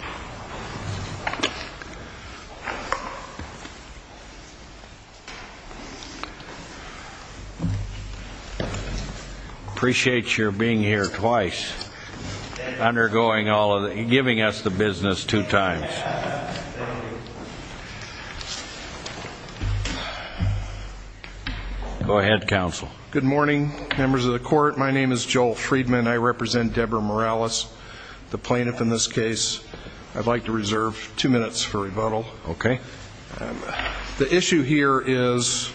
I appreciate your being here twice undergoing all of the giving us the business two times. Go ahead, counsel. Good morning, members of the court. My name is Joel Friedman. I represent Deborah Morales, the plaintiff in this case. I'd like to reserve two minutes for rebuttal. The issue here is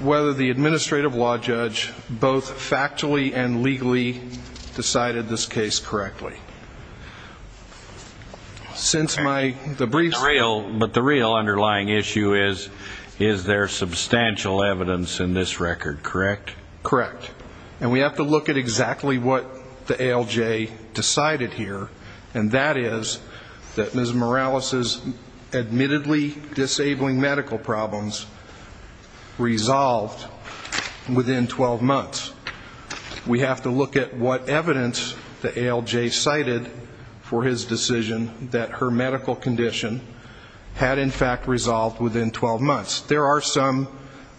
whether the administrative law judge both factually and legally decided this case correctly. Since my brief... But the real underlying issue is, is there substantial evidence in this record, correct? Correct. And we have to look at exactly what the ALJ decided here, and that is that Ms. Morales' admittedly disabling medical problems resolved within 12 months. We have to look at what evidence the ALJ cited for his decision that her medical condition had, in fact, resolved within 12 months. There are some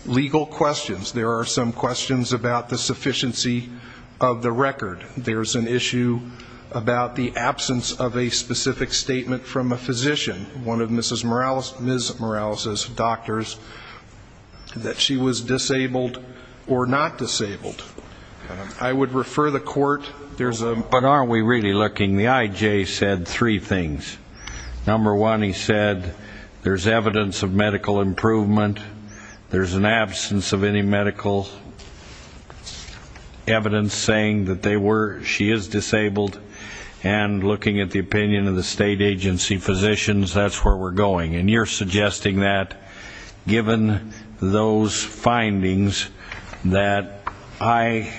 legal questions. There are some questions about the sufficiency of the record. There's an issue about the absence of a specific statement from a physician, one of Ms. Morales' doctors, that she was disabled or not disabled. I would refer the court... But aren't we really looking? The IJ said three things. Number one, he said there's evidence of medical improvement. There's an absence of any medical evidence saying that she is disabled. And looking at the opinion of the state agency physicians, that's where we're going. And you're suggesting that, given those findings, that I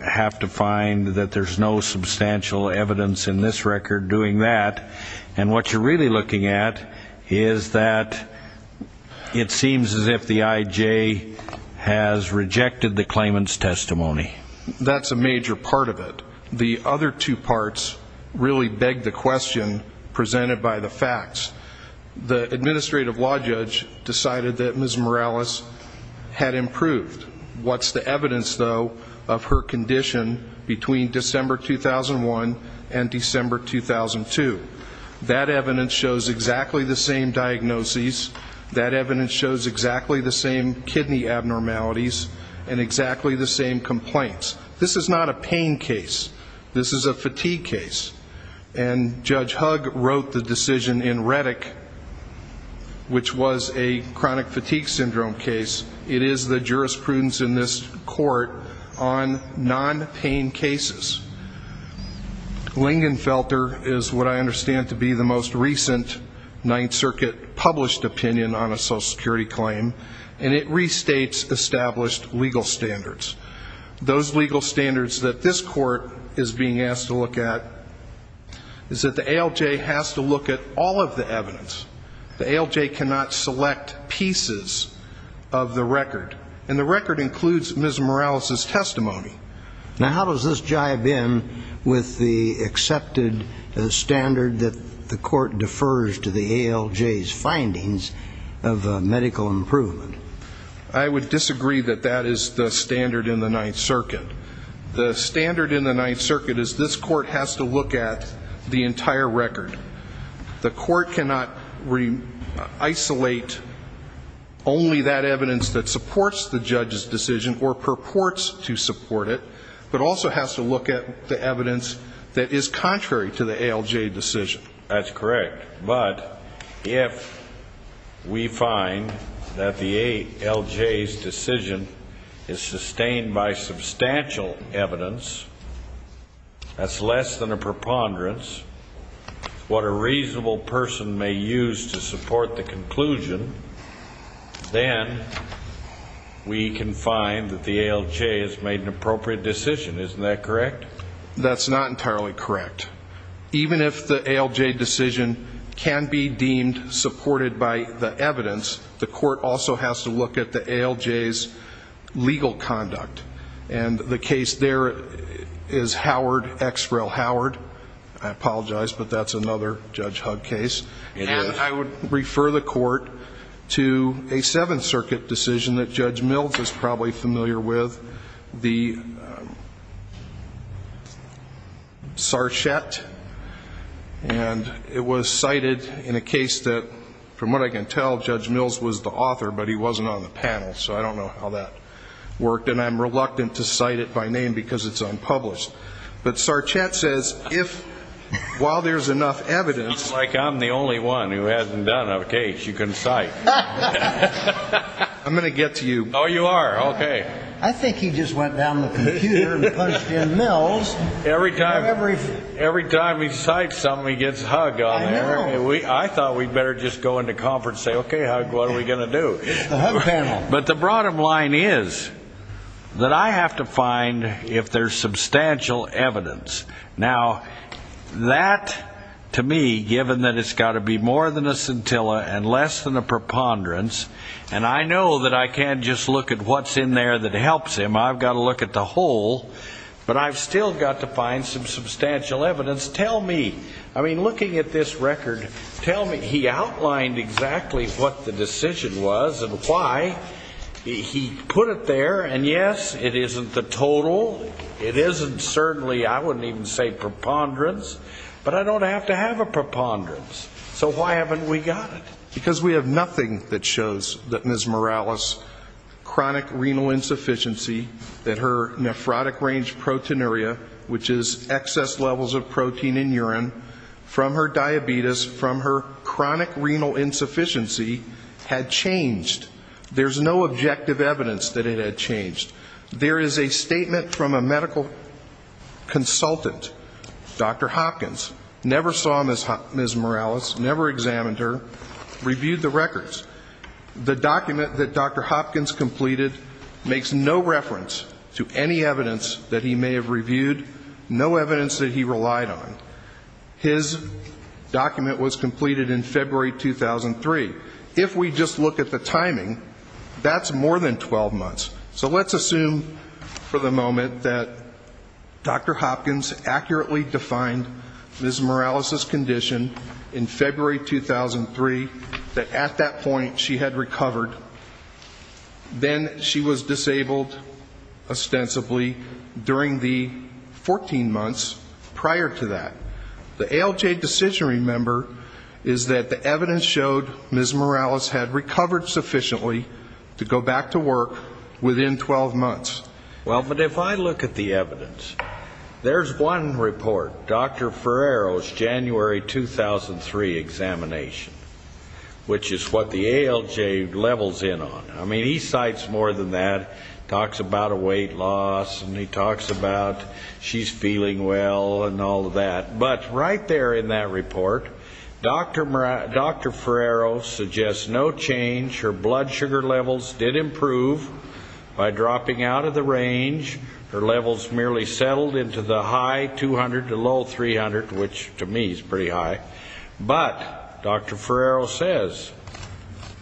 have to find that there's no substantial evidence in this record doing that. And what you're really looking at is that it seems as if the IJ has rejected the claimant's testimony. That's a major part of it. The other two parts really beg the question presented by the facts. The administrative law judge decided that Ms. Morales had improved. What's the evidence, though, of her condition between December 2001 and December 2002? That evidence shows exactly the same diagnoses. That evidence shows exactly the same kidney abnormalities and exactly the same complaints. This is not a pain case. This is a fatigue case. And Judge Hug wrote the decision in Reddick, which was a chronic fatigue syndrome case. It is the jurisprudence in this court on non-pain cases. Lingenfelter is what I understand to be the most recent Ninth Circuit published opinion on a Social Security claim. And it restates established legal standards. Those legal standards that this court is being asked to look at is that the ALJ has to look at all of the evidence. The ALJ cannot select pieces of the record. And the record includes Ms. Morales's the accepted standard that the court defers to the ALJ's findings of medical improvement. I would disagree that that is the standard in the Ninth Circuit. The standard in the Ninth Circuit is this court has to look at the entire record. The court cannot isolate only that evidence that supports the judge's decision or purports to support it, but also has to look at the evidence that is contrary to the ALJ decision. That's correct. But if we find that the ALJ's decision is sustained by substantial evidence, that's less than a preponderance, what a reasonable person may use to support the conclusion, then we can find that the ALJ has made an appropriate decision. Isn't that correct? That's not entirely correct. Even if the ALJ decision can be deemed supported by the evidence, the court also has to look at the ALJ's legal conduct. And the case there is Howard, X. Rel. Howard. I apologize, but that's another Judge Hugg case. And I would refer the court to a Seventh Circuit decision that Judge Mills is probably familiar with, the Sarchette. And it was cited in a case that, from what I can tell, Judge Mills was the author, but he wasn't on the panel. So I don't know how that worked. And I'm reluctant to cite it by name because it's unpublished. But Sarchette says, if, while there's enough evidence... It's like I'm the only one who hasn't done a case you can cite. I'm going to get to you. Oh, you are? Okay. I think he just went down the computer and punched in Mills. Every time he cites something, he gets Hugg on there. I thought we'd better just go into conference and say, okay, Hugg, what are we going to do? But the bottom line is that I have to find if there's substantial evidence. Now, that, to me, given that it's got to be more than a scintilla and less than a preponderance, and I know that I can't just look at what's in there that helps him, I've got to look at the whole, but I've still got to find some substantial evidence. Tell me, I mean, looking at this record, tell me, he outlined exactly what the decision was and why. He put it there, and yes, it isn't the total, it isn't certainly, I wouldn't even say preponderance, but I don't have to have a preponderance. So why haven't we got it? Because we have nothing that shows that Ms. Morales' chronic renal insufficiency, that her nephrotic range proteinuria, which is excess levels of protein in urine, from her diabetes, from her chronic renal insufficiency, had changed. There's no objective evidence that it had changed. There is a statement from a medical consultant, Dr. Hopkins, never saw Ms. Morales, never examined her, reviewed the records. The document that Dr. Hopkins completed makes no reference to any evidence that he may have reviewed, no evidence that he relied on. His document was completed in February 2003. If we just look at the timing, that's more than 12 months. So let's assume for the moment that Dr. Hopkins accurately defined Ms. Morales' condition in February 2003, that at that point she had recovered. Then she was disabled, ostensibly, during the 14 months prior to that. The ALJ decisionary member is that the evidence showed Ms. Morales had recovered sufficiently to go back to work within 12 months. Well, but if I look at the evidence, there's one report, Dr. Ferrero's January 2003 examination, which is what the ALJ levels in on. I mean, he cites more than that. He talks about a weight loss, and he talks about she's feeling well and all of that. But right there in that report, Dr. Ferrero suggests no change, her blood sugar levels did improve by dropping out of the range. Her levels merely settled into the high 200 to low 300, which to me is pretty high. But Dr. Ferrero says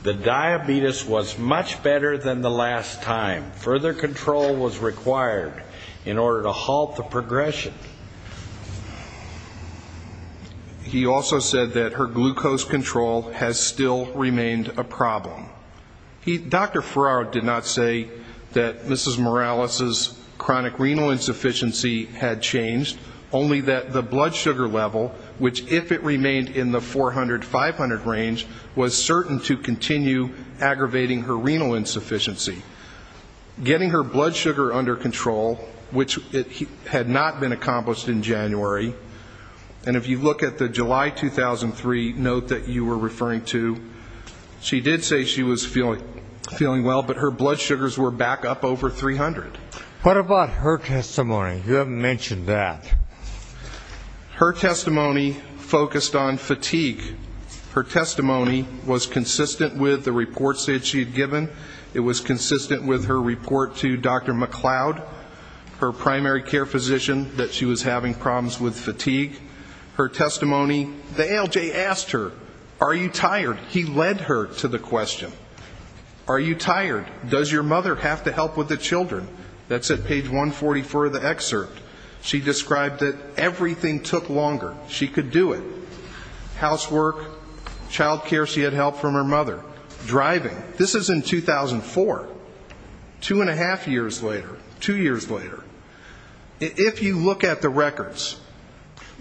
the diabetes was much better than the last time. Further control was required in order to halt the progression. He also said that her glucose control has still remained a problem. Dr. Ferrero did not say that Ms. Morales' chronic renal insufficiency had changed, only that the blood sugar level, which if it remained in the 400, 500 range, was certain to continue aggravating her renal insufficiency. Getting her blood sugar under control, which had not been accomplished in January, and if you look at the July 2003 note that you were referring to, she did say she was feeling well, but her blood sugars were back up over 300. Dr. Erwin Schroeder What about her testimony? You haven't mentioned that. Dr. Michael McCloud Her testimony focused on fatigue. Her testimony was consistent with the reports that she had given. It was consistent with her report to Dr. McCloud, her primary care physician, that she was having problems with fatigue. Her testimony, the ALJ asked her, are you tired? He led her to the question. Are you tired? Does your mother have to help with the children? That's at page 144 of the excerpt. She described that everything took longer. She could do it. Housework, child care, she later. Two years later. If you look at the records,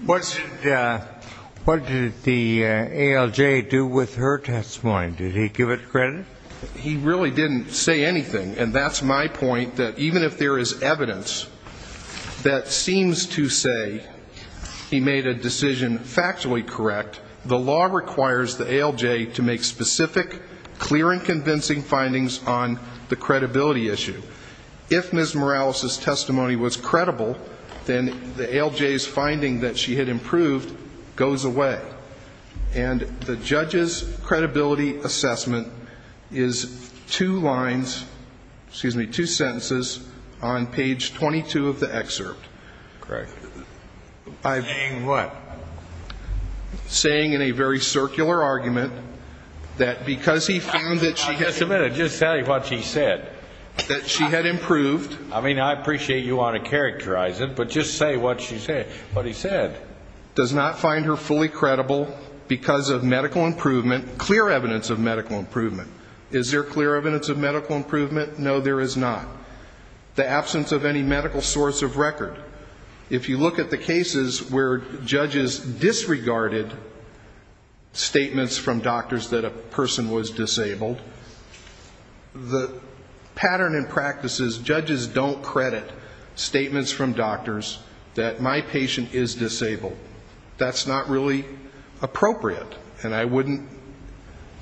what did the ALJ do with her testimony? Did he give it credit? Dr. Michael McCloud He really didn't say anything. And that's my point, that even if there is evidence that seems to say he made a decision factually correct, the law requires the ALJ to make specific, clear and convincing findings on the credibility issue. If Ms. Morales' testimony was credible, then the ALJ's finding that she had improved goes away. And the judge's credibility assessment is two lines, excuse me, two sentences on page 22 of the excerpt. Justice Breyer Correct. Saying what? Dr. Michael McCloud Saying in a very circular argument that because he found that she had Justice Breyer I mean, I appreciate you want to characterize it, but just say what she said. What he said. Dr. Michael McCloud Does not find her fully credible because of medical improvement, clear evidence of medical improvement. Is there clear evidence of medical improvement? No, there is not. The absence of any medical source of record. If you look at the cases where judges disregarded statements from doctors that a person was disabled, the pattern in practice is judges don't credit statements from doctors that my patient is disabled. That's not really appropriate. And I wouldn't,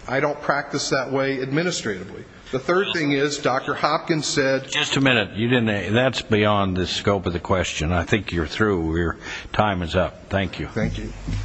I don't practice that way administratively. The third thing is Dr. Hopkins said Justice Breyer Just a minute. That's beyond the scope of the question. I think you're through. Your time is up. Thank you. Dr. Jeanne M. Turk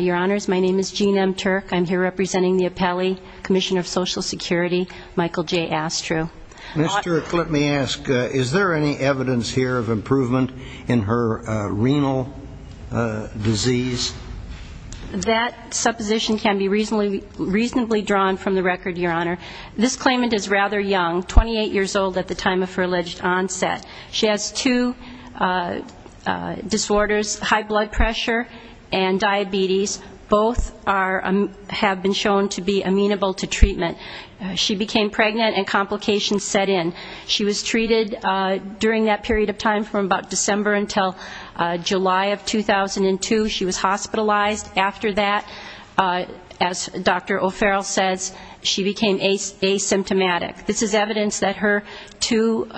Your Honors, my name is Jeanne M. Turk. I'm here representing the Appellee, Commissioner of Social Security, Michael J. Astro. Mr. Turk, let me ask, is there any evidence here of improvement in her renal disease? That supposition can be reasonably drawn from the record, Your Honor. This claimant is rather young, 28 years old at the time of her alleged onset. She has two disorders, high blood pressure and diabetes. Both have been shown to be amenable to treatment. She became pregnant and complications set in. She was treated during that period of time from about December until July of 2002. She was hospitalized. After that, as Dr. O'Farrell says, she became asymptomatic. This is evidence that her two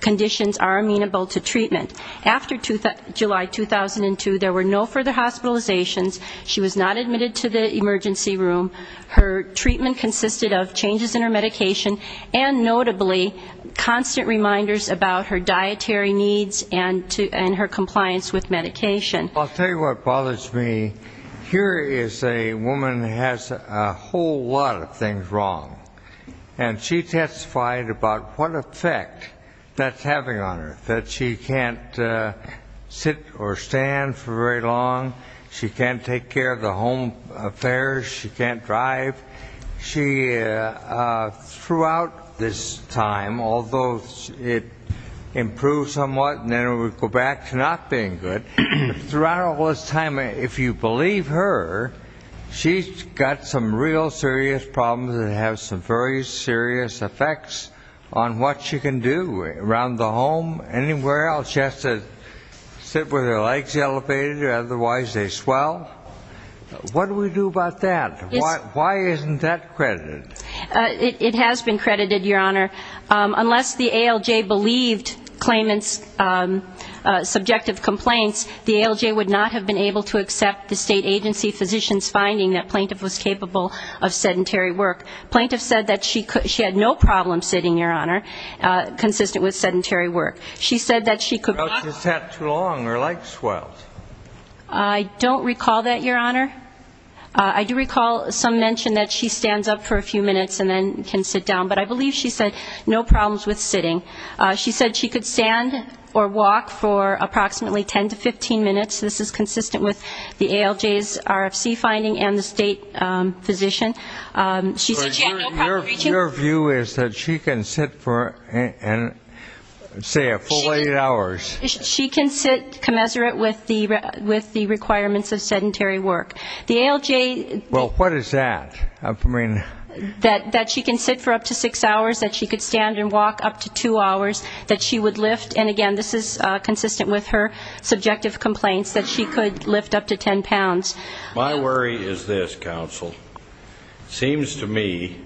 conditions are amenable to treatment. After July 2002, there were no further hospitalizations. She was not admitted to the emergency room. Her treatment consisted of changes in her medication and, notably, constant reminders about her dietary needs and her compliance with medication. I'll tell you what bothers me. Here is a woman who has a whole lot of things wrong. And she testified about what effect that's having on her, that she can't sit or stand for very long. Throughout this time, although it improved somewhat and then it would go back to not being good, throughout all this time, if you believe her, she's got some real serious problems that have some very serious effects on what she can do around the home, anywhere else. She has to sit with her legs elevated or otherwise they swell. What do we do about that? Why isn't that credited? It has been credited, Your Honor. Unless the ALJ believed claimant's subjective complaints, the ALJ would not have been able to accept the state agency physician's finding that plaintiff was capable of sedentary work. Plaintiff said that she had no problem sitting, Your Honor, consistent with sedentary work. She said that she could not sit too long or legs swell. I don't recall that, Your Honor. I do recall some mention that she stands up for a few minutes and then can sit down. But I believe she said no problems with sitting. She said she could stand or walk for approximately 10 to 15 minutes. This is consistent with the ALJ's RFC finding and the state physician. She said she had no problem reaching Your view is that she can sit for, say, a full eight hours. She can sit commensurate with the requirements of sedentary work. The ALJ Well, what is that? That she can sit for up to six hours, that she could stand and walk up to two hours, that she would lift, and again, this is consistent with her subjective complaints, that she could lift up to 10 pounds. My worry is this, counsel. It seems to me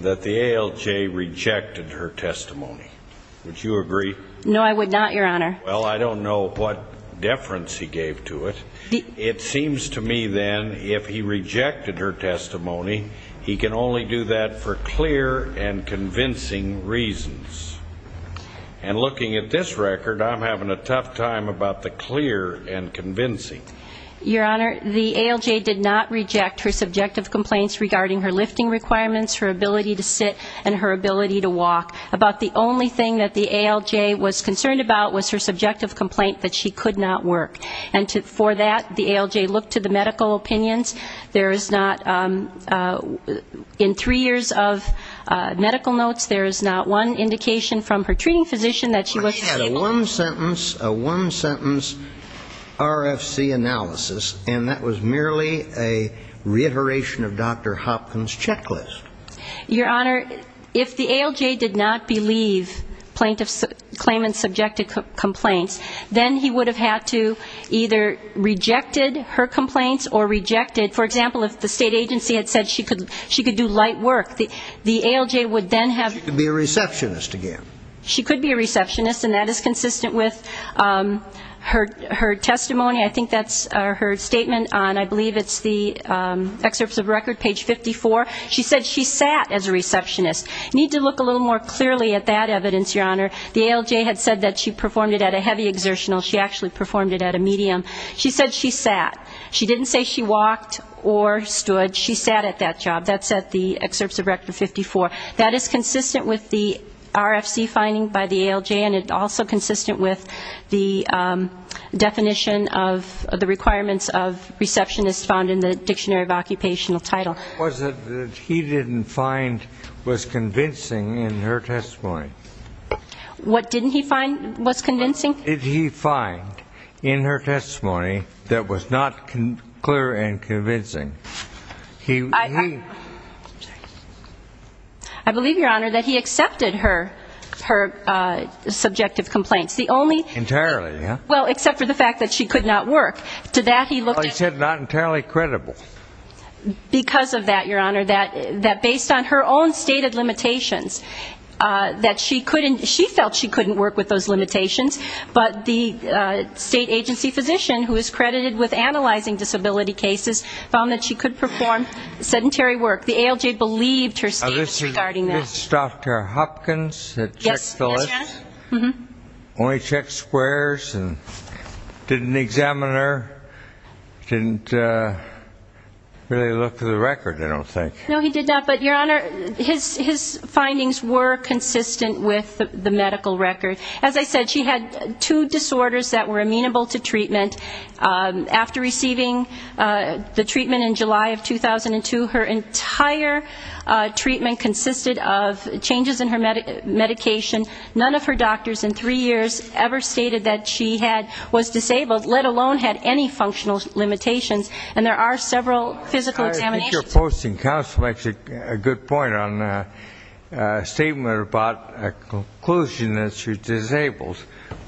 that the ALJ rejected her testimony. Would you agree? No, I would not, Your Honor. Well, I don't know what deference he gave to it. It seems to me, then, if he rejected her testimony, he can only do that for clear and convincing reasons. And looking at this record, I'm having a tough time about the clear and convincing. Your Honor, the ALJ did not reject her subjective complaints regarding her lifting requirements, her ability to sit, and her ability to walk. About the only thing that the ALJ was concerned about was her subjective complaint that she could not work. And for that, the ALJ looked to the medical opinions. There is not, in three years of medical notes, there is not one indication from her treating physician that she was stable. Well, he had a one-sentence, a one-sentence RFC analysis, and that was merely a reiteration of Dr. Hopkins' checklist. Your Honor, if the ALJ did not believe plaintiff's claimant's subjective complaints, then he would have had to either rejected her complaints or rejected, for example, if the state agency had said she could do light work, the ALJ would then have She could be a receptionist again. She could be a receptionist, and that is consistent with her testimony. I think that's her statement on, I believe it's the excerpts of record, page 54. She said she sat as a receptionist. Need to look a little more clearly at that evidence, Your Honor. The ALJ had said that she performed it at a heavy exertional. She actually performed it at a medium. She said she sat. She didn't say she walked or stood. She sat at that job. That's at the excerpts of record 54. That is consistent with the RFC finding by the ALJ, and it's also consistent with the definition of the requirements of receptionist found in the Dictionary of Occupational Title. Was it that he didn't find was convincing in her testimony? What didn't he find was convincing? Did he find in her testimony that was not clear and convincing? I believe, Your Honor, that he accepted her subjective complaints. Entirely, yeah. Well, except for the fact that she could not work. To that he looked at He said not entirely credible. Because of that, Your Honor, that based on her own stated limitations, that she felt she couldn't work with those limitations, but the state agency physician who is credited with analyzing disability cases found that she could perform sedentary work. The ALJ believed her statements regarding that. This is Dr. Hopkins that checked the list, only checked squares, and didn't examine her, didn't really look through the record, I don't think. No, he did not. But, Your Honor, his findings were consistent with the medical record. As I said, she had two disorders that were amenable to treatment. After receiving the treatment in July of 2002, her entire treatment consisted of changes in her medication. None of her doctors in three years ever stated that she was disabled, let alone had any functional limitations. And there are several physical examinations. I think your posting counsel makes a good point on a statement about a conclusion that she's disabled.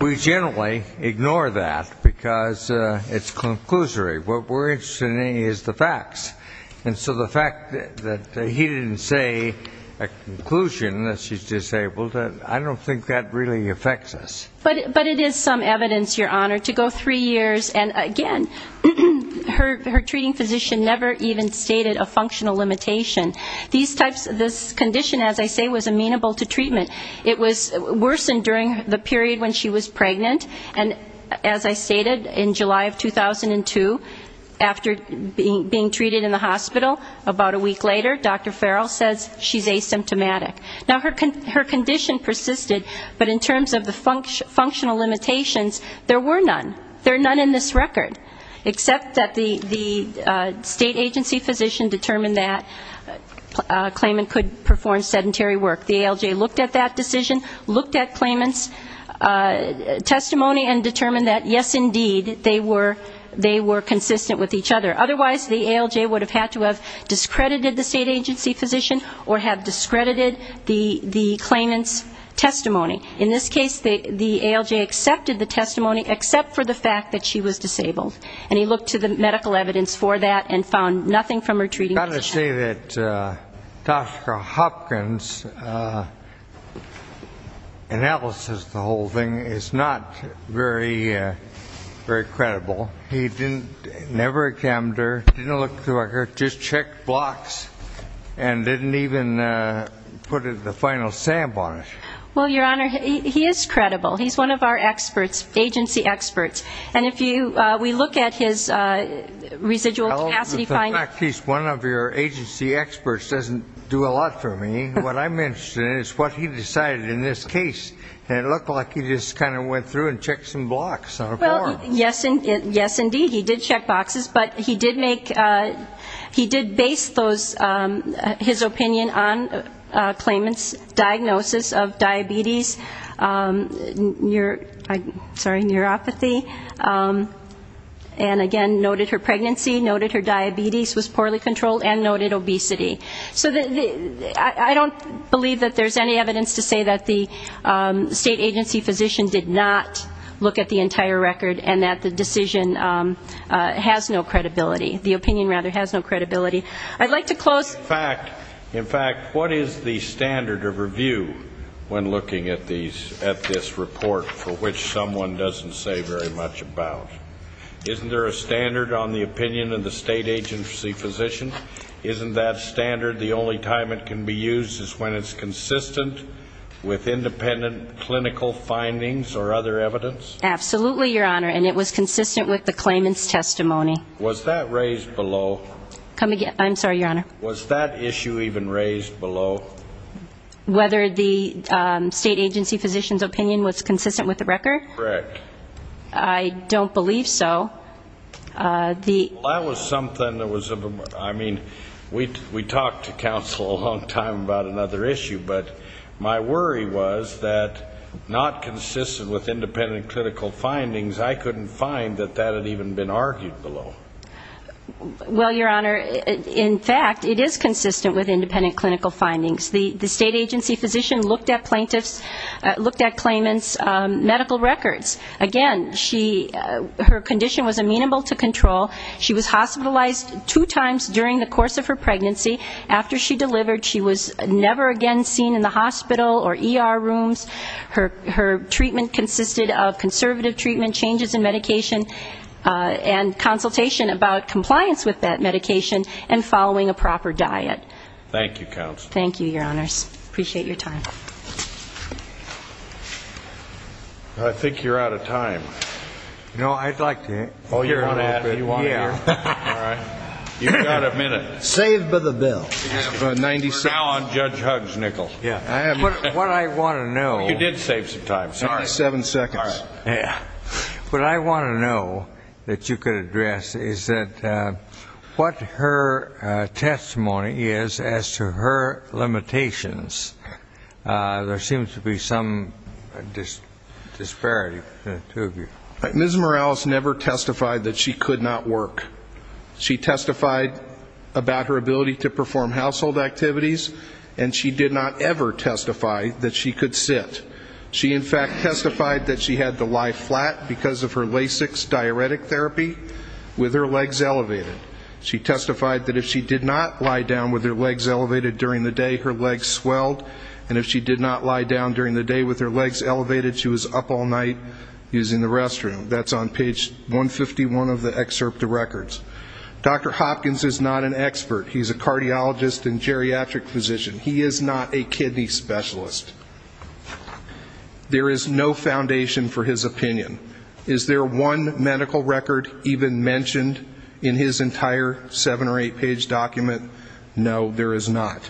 We generally ignore that, because it's conclusory. What we're interested in is the facts. And so the fact that he didn't say a conclusion that she's disabled, I don't think that really affects us. But it is some evidence, Your Honor, to go three years, and again, her treating physician never even stated a functional limitation. These types of conditions, as I say, was amenable to treatment. It was worsened during the period when she was pregnant. And as I stated, in July of 2002, after being treated in the hospital, about a week later, Dr. Farrell says she's asymptomatic. Now her condition persisted, but in terms of the functional limitations, there were none. There are none in this record, except that the state agency physician determined that a claimant could perform sedentary work. The ALJ looked at that decision, looked at claimant's testimony, and determined that, yes, indeed, they were consistent with each other. Otherwise, the ALJ would have had to have discredited the state agency physician or have discredited the claimant's testimony. In this case, the ALJ accepted the testimony, except for the fact that she was disabled. And he looked to the medical evidence for that and found nothing from her treating physician. I've got to say that Dr. Hopkins' analysis of the whole thing is not very credible. He didn't, never examined her, didn't look through her records, just checked blocks, and didn't even put the final sample on it. Well, Your Honor, he is credible. He's one of our experts, agency experts. And if we look at his residual capacity finding ñ Well, the fact that he's one of your agency experts doesn't do a lot for me. What I'm interested in is what he decided in this case. And it looked like he just kind of went through and checked some blocks on a form. Well, yes, indeed. He did check boxes. But he did make, he did base those, his opinion on claimant's diagnosis of diabetes, sorry, neuropathy. And he did, he did base his opinion and again noted her pregnancy, noted her diabetes was poorly controlled, and noted obesity. So the, I don't believe that there's any evidence to say that the state agency physician did not look at the entire record and that the decision has no credibility, the opinion rather has no credibility. I'd like to close. In fact, in fact, what is the standard of review when looking at these, at this report for which someone doesn't say very much about? Isn't there a standard on the opinion of the state agency physician? Isn't that standard the only time it can be used is when it's consistent with independent clinical findings or other evidence? Absolutely, Your Honor. And it was consistent with the claimant's testimony. Was that raised below? Come again? I'm sorry, Your Honor. Was that issue even raised below? Whether the state agency physician's opinion was consistent with the record? Correct. I don't believe so. The Well, that was something that was, I mean, we talked to counsel a long time about another issue, but my worry was that not consistent with independent clinical findings, I couldn't find that that had even been argued below. Well, Your Honor, in fact, it is consistent with independent clinical findings. The state agency physician looked at plaintiff's, looked at claimant's medical records. Again, she, her condition was amenable to control. She was hospitalized two times during the course of her pregnancy. After she delivered, she was never again seen in the hospital or ER about compliance with that medication and following a proper diet. Thank you, counsel. Thank you, Your Honors. Appreciate your time. I think you're out of time. No, I'd like to hear a little bit. Oh, you want to hear? Yeah. All right. You've got a minute. Saved by the bell. For 90 seconds. We're now on Judge Huggs' nickel. Yeah. What I want to know You did save some time. 77 seconds. All right. Yeah. What I want to know that you could address is that what her testimony is as to her limitations. There seems to be some disparity between the two of you. Ms. Morales never testified that she could not work. She testified about her ability to perform household activities, and she did not ever testify that she could sit. She, in fact, testified that she had to lie flat because of her LASIKs diuretic therapy with her legs elevated. She testified that if she did not lie down with her legs elevated during the day, her legs swelled, and if she did not lie down during the day with her legs elevated, she was up all night using the restroom. That's on page 151 of the excerpt of records. Dr. Hopkins is not an expert. He's a cardiologist and geriatric physician. He is not a kidney specialist. There is no foundation for his opinion. Is there one medical record even mentioned in his entire seven or eight page document? No, there is not.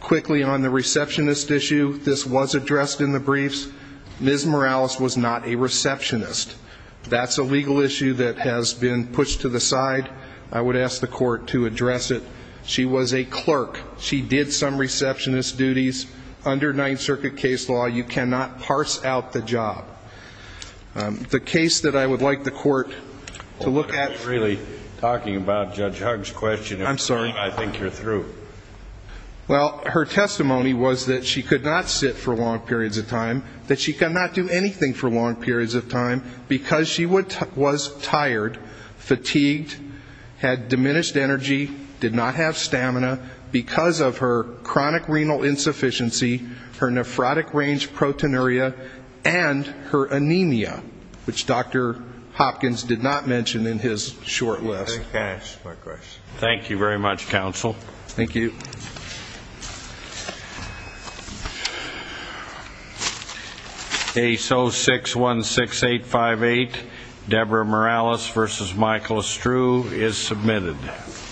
Quickly on the receptionist issue, this was addressed in the briefs. Ms. Morales was not a receptionist. That's a legal issue that has been pushed to the side. I would ask the committees, under Ninth Circuit case law, you cannot parse out the job. The case that I would like the court to look at Are we really talking about Judge Hugg's question? I'm sorry. I think you're through. Well, her testimony was that she could not sit for long periods of time, that she could not do anything for long periods of time because she was tired, fatigued, had diminished energy, did not have stamina, because of her chronic renal insufficiency, her nephrotic range proteinuria, and her anemia, which Dr. Hopkins did not mention in his short list. Can I ask one question? Thank you very much, counsel. Thank you. ASO 616858, Deborah Morales v. Michael Estrue, is submitted.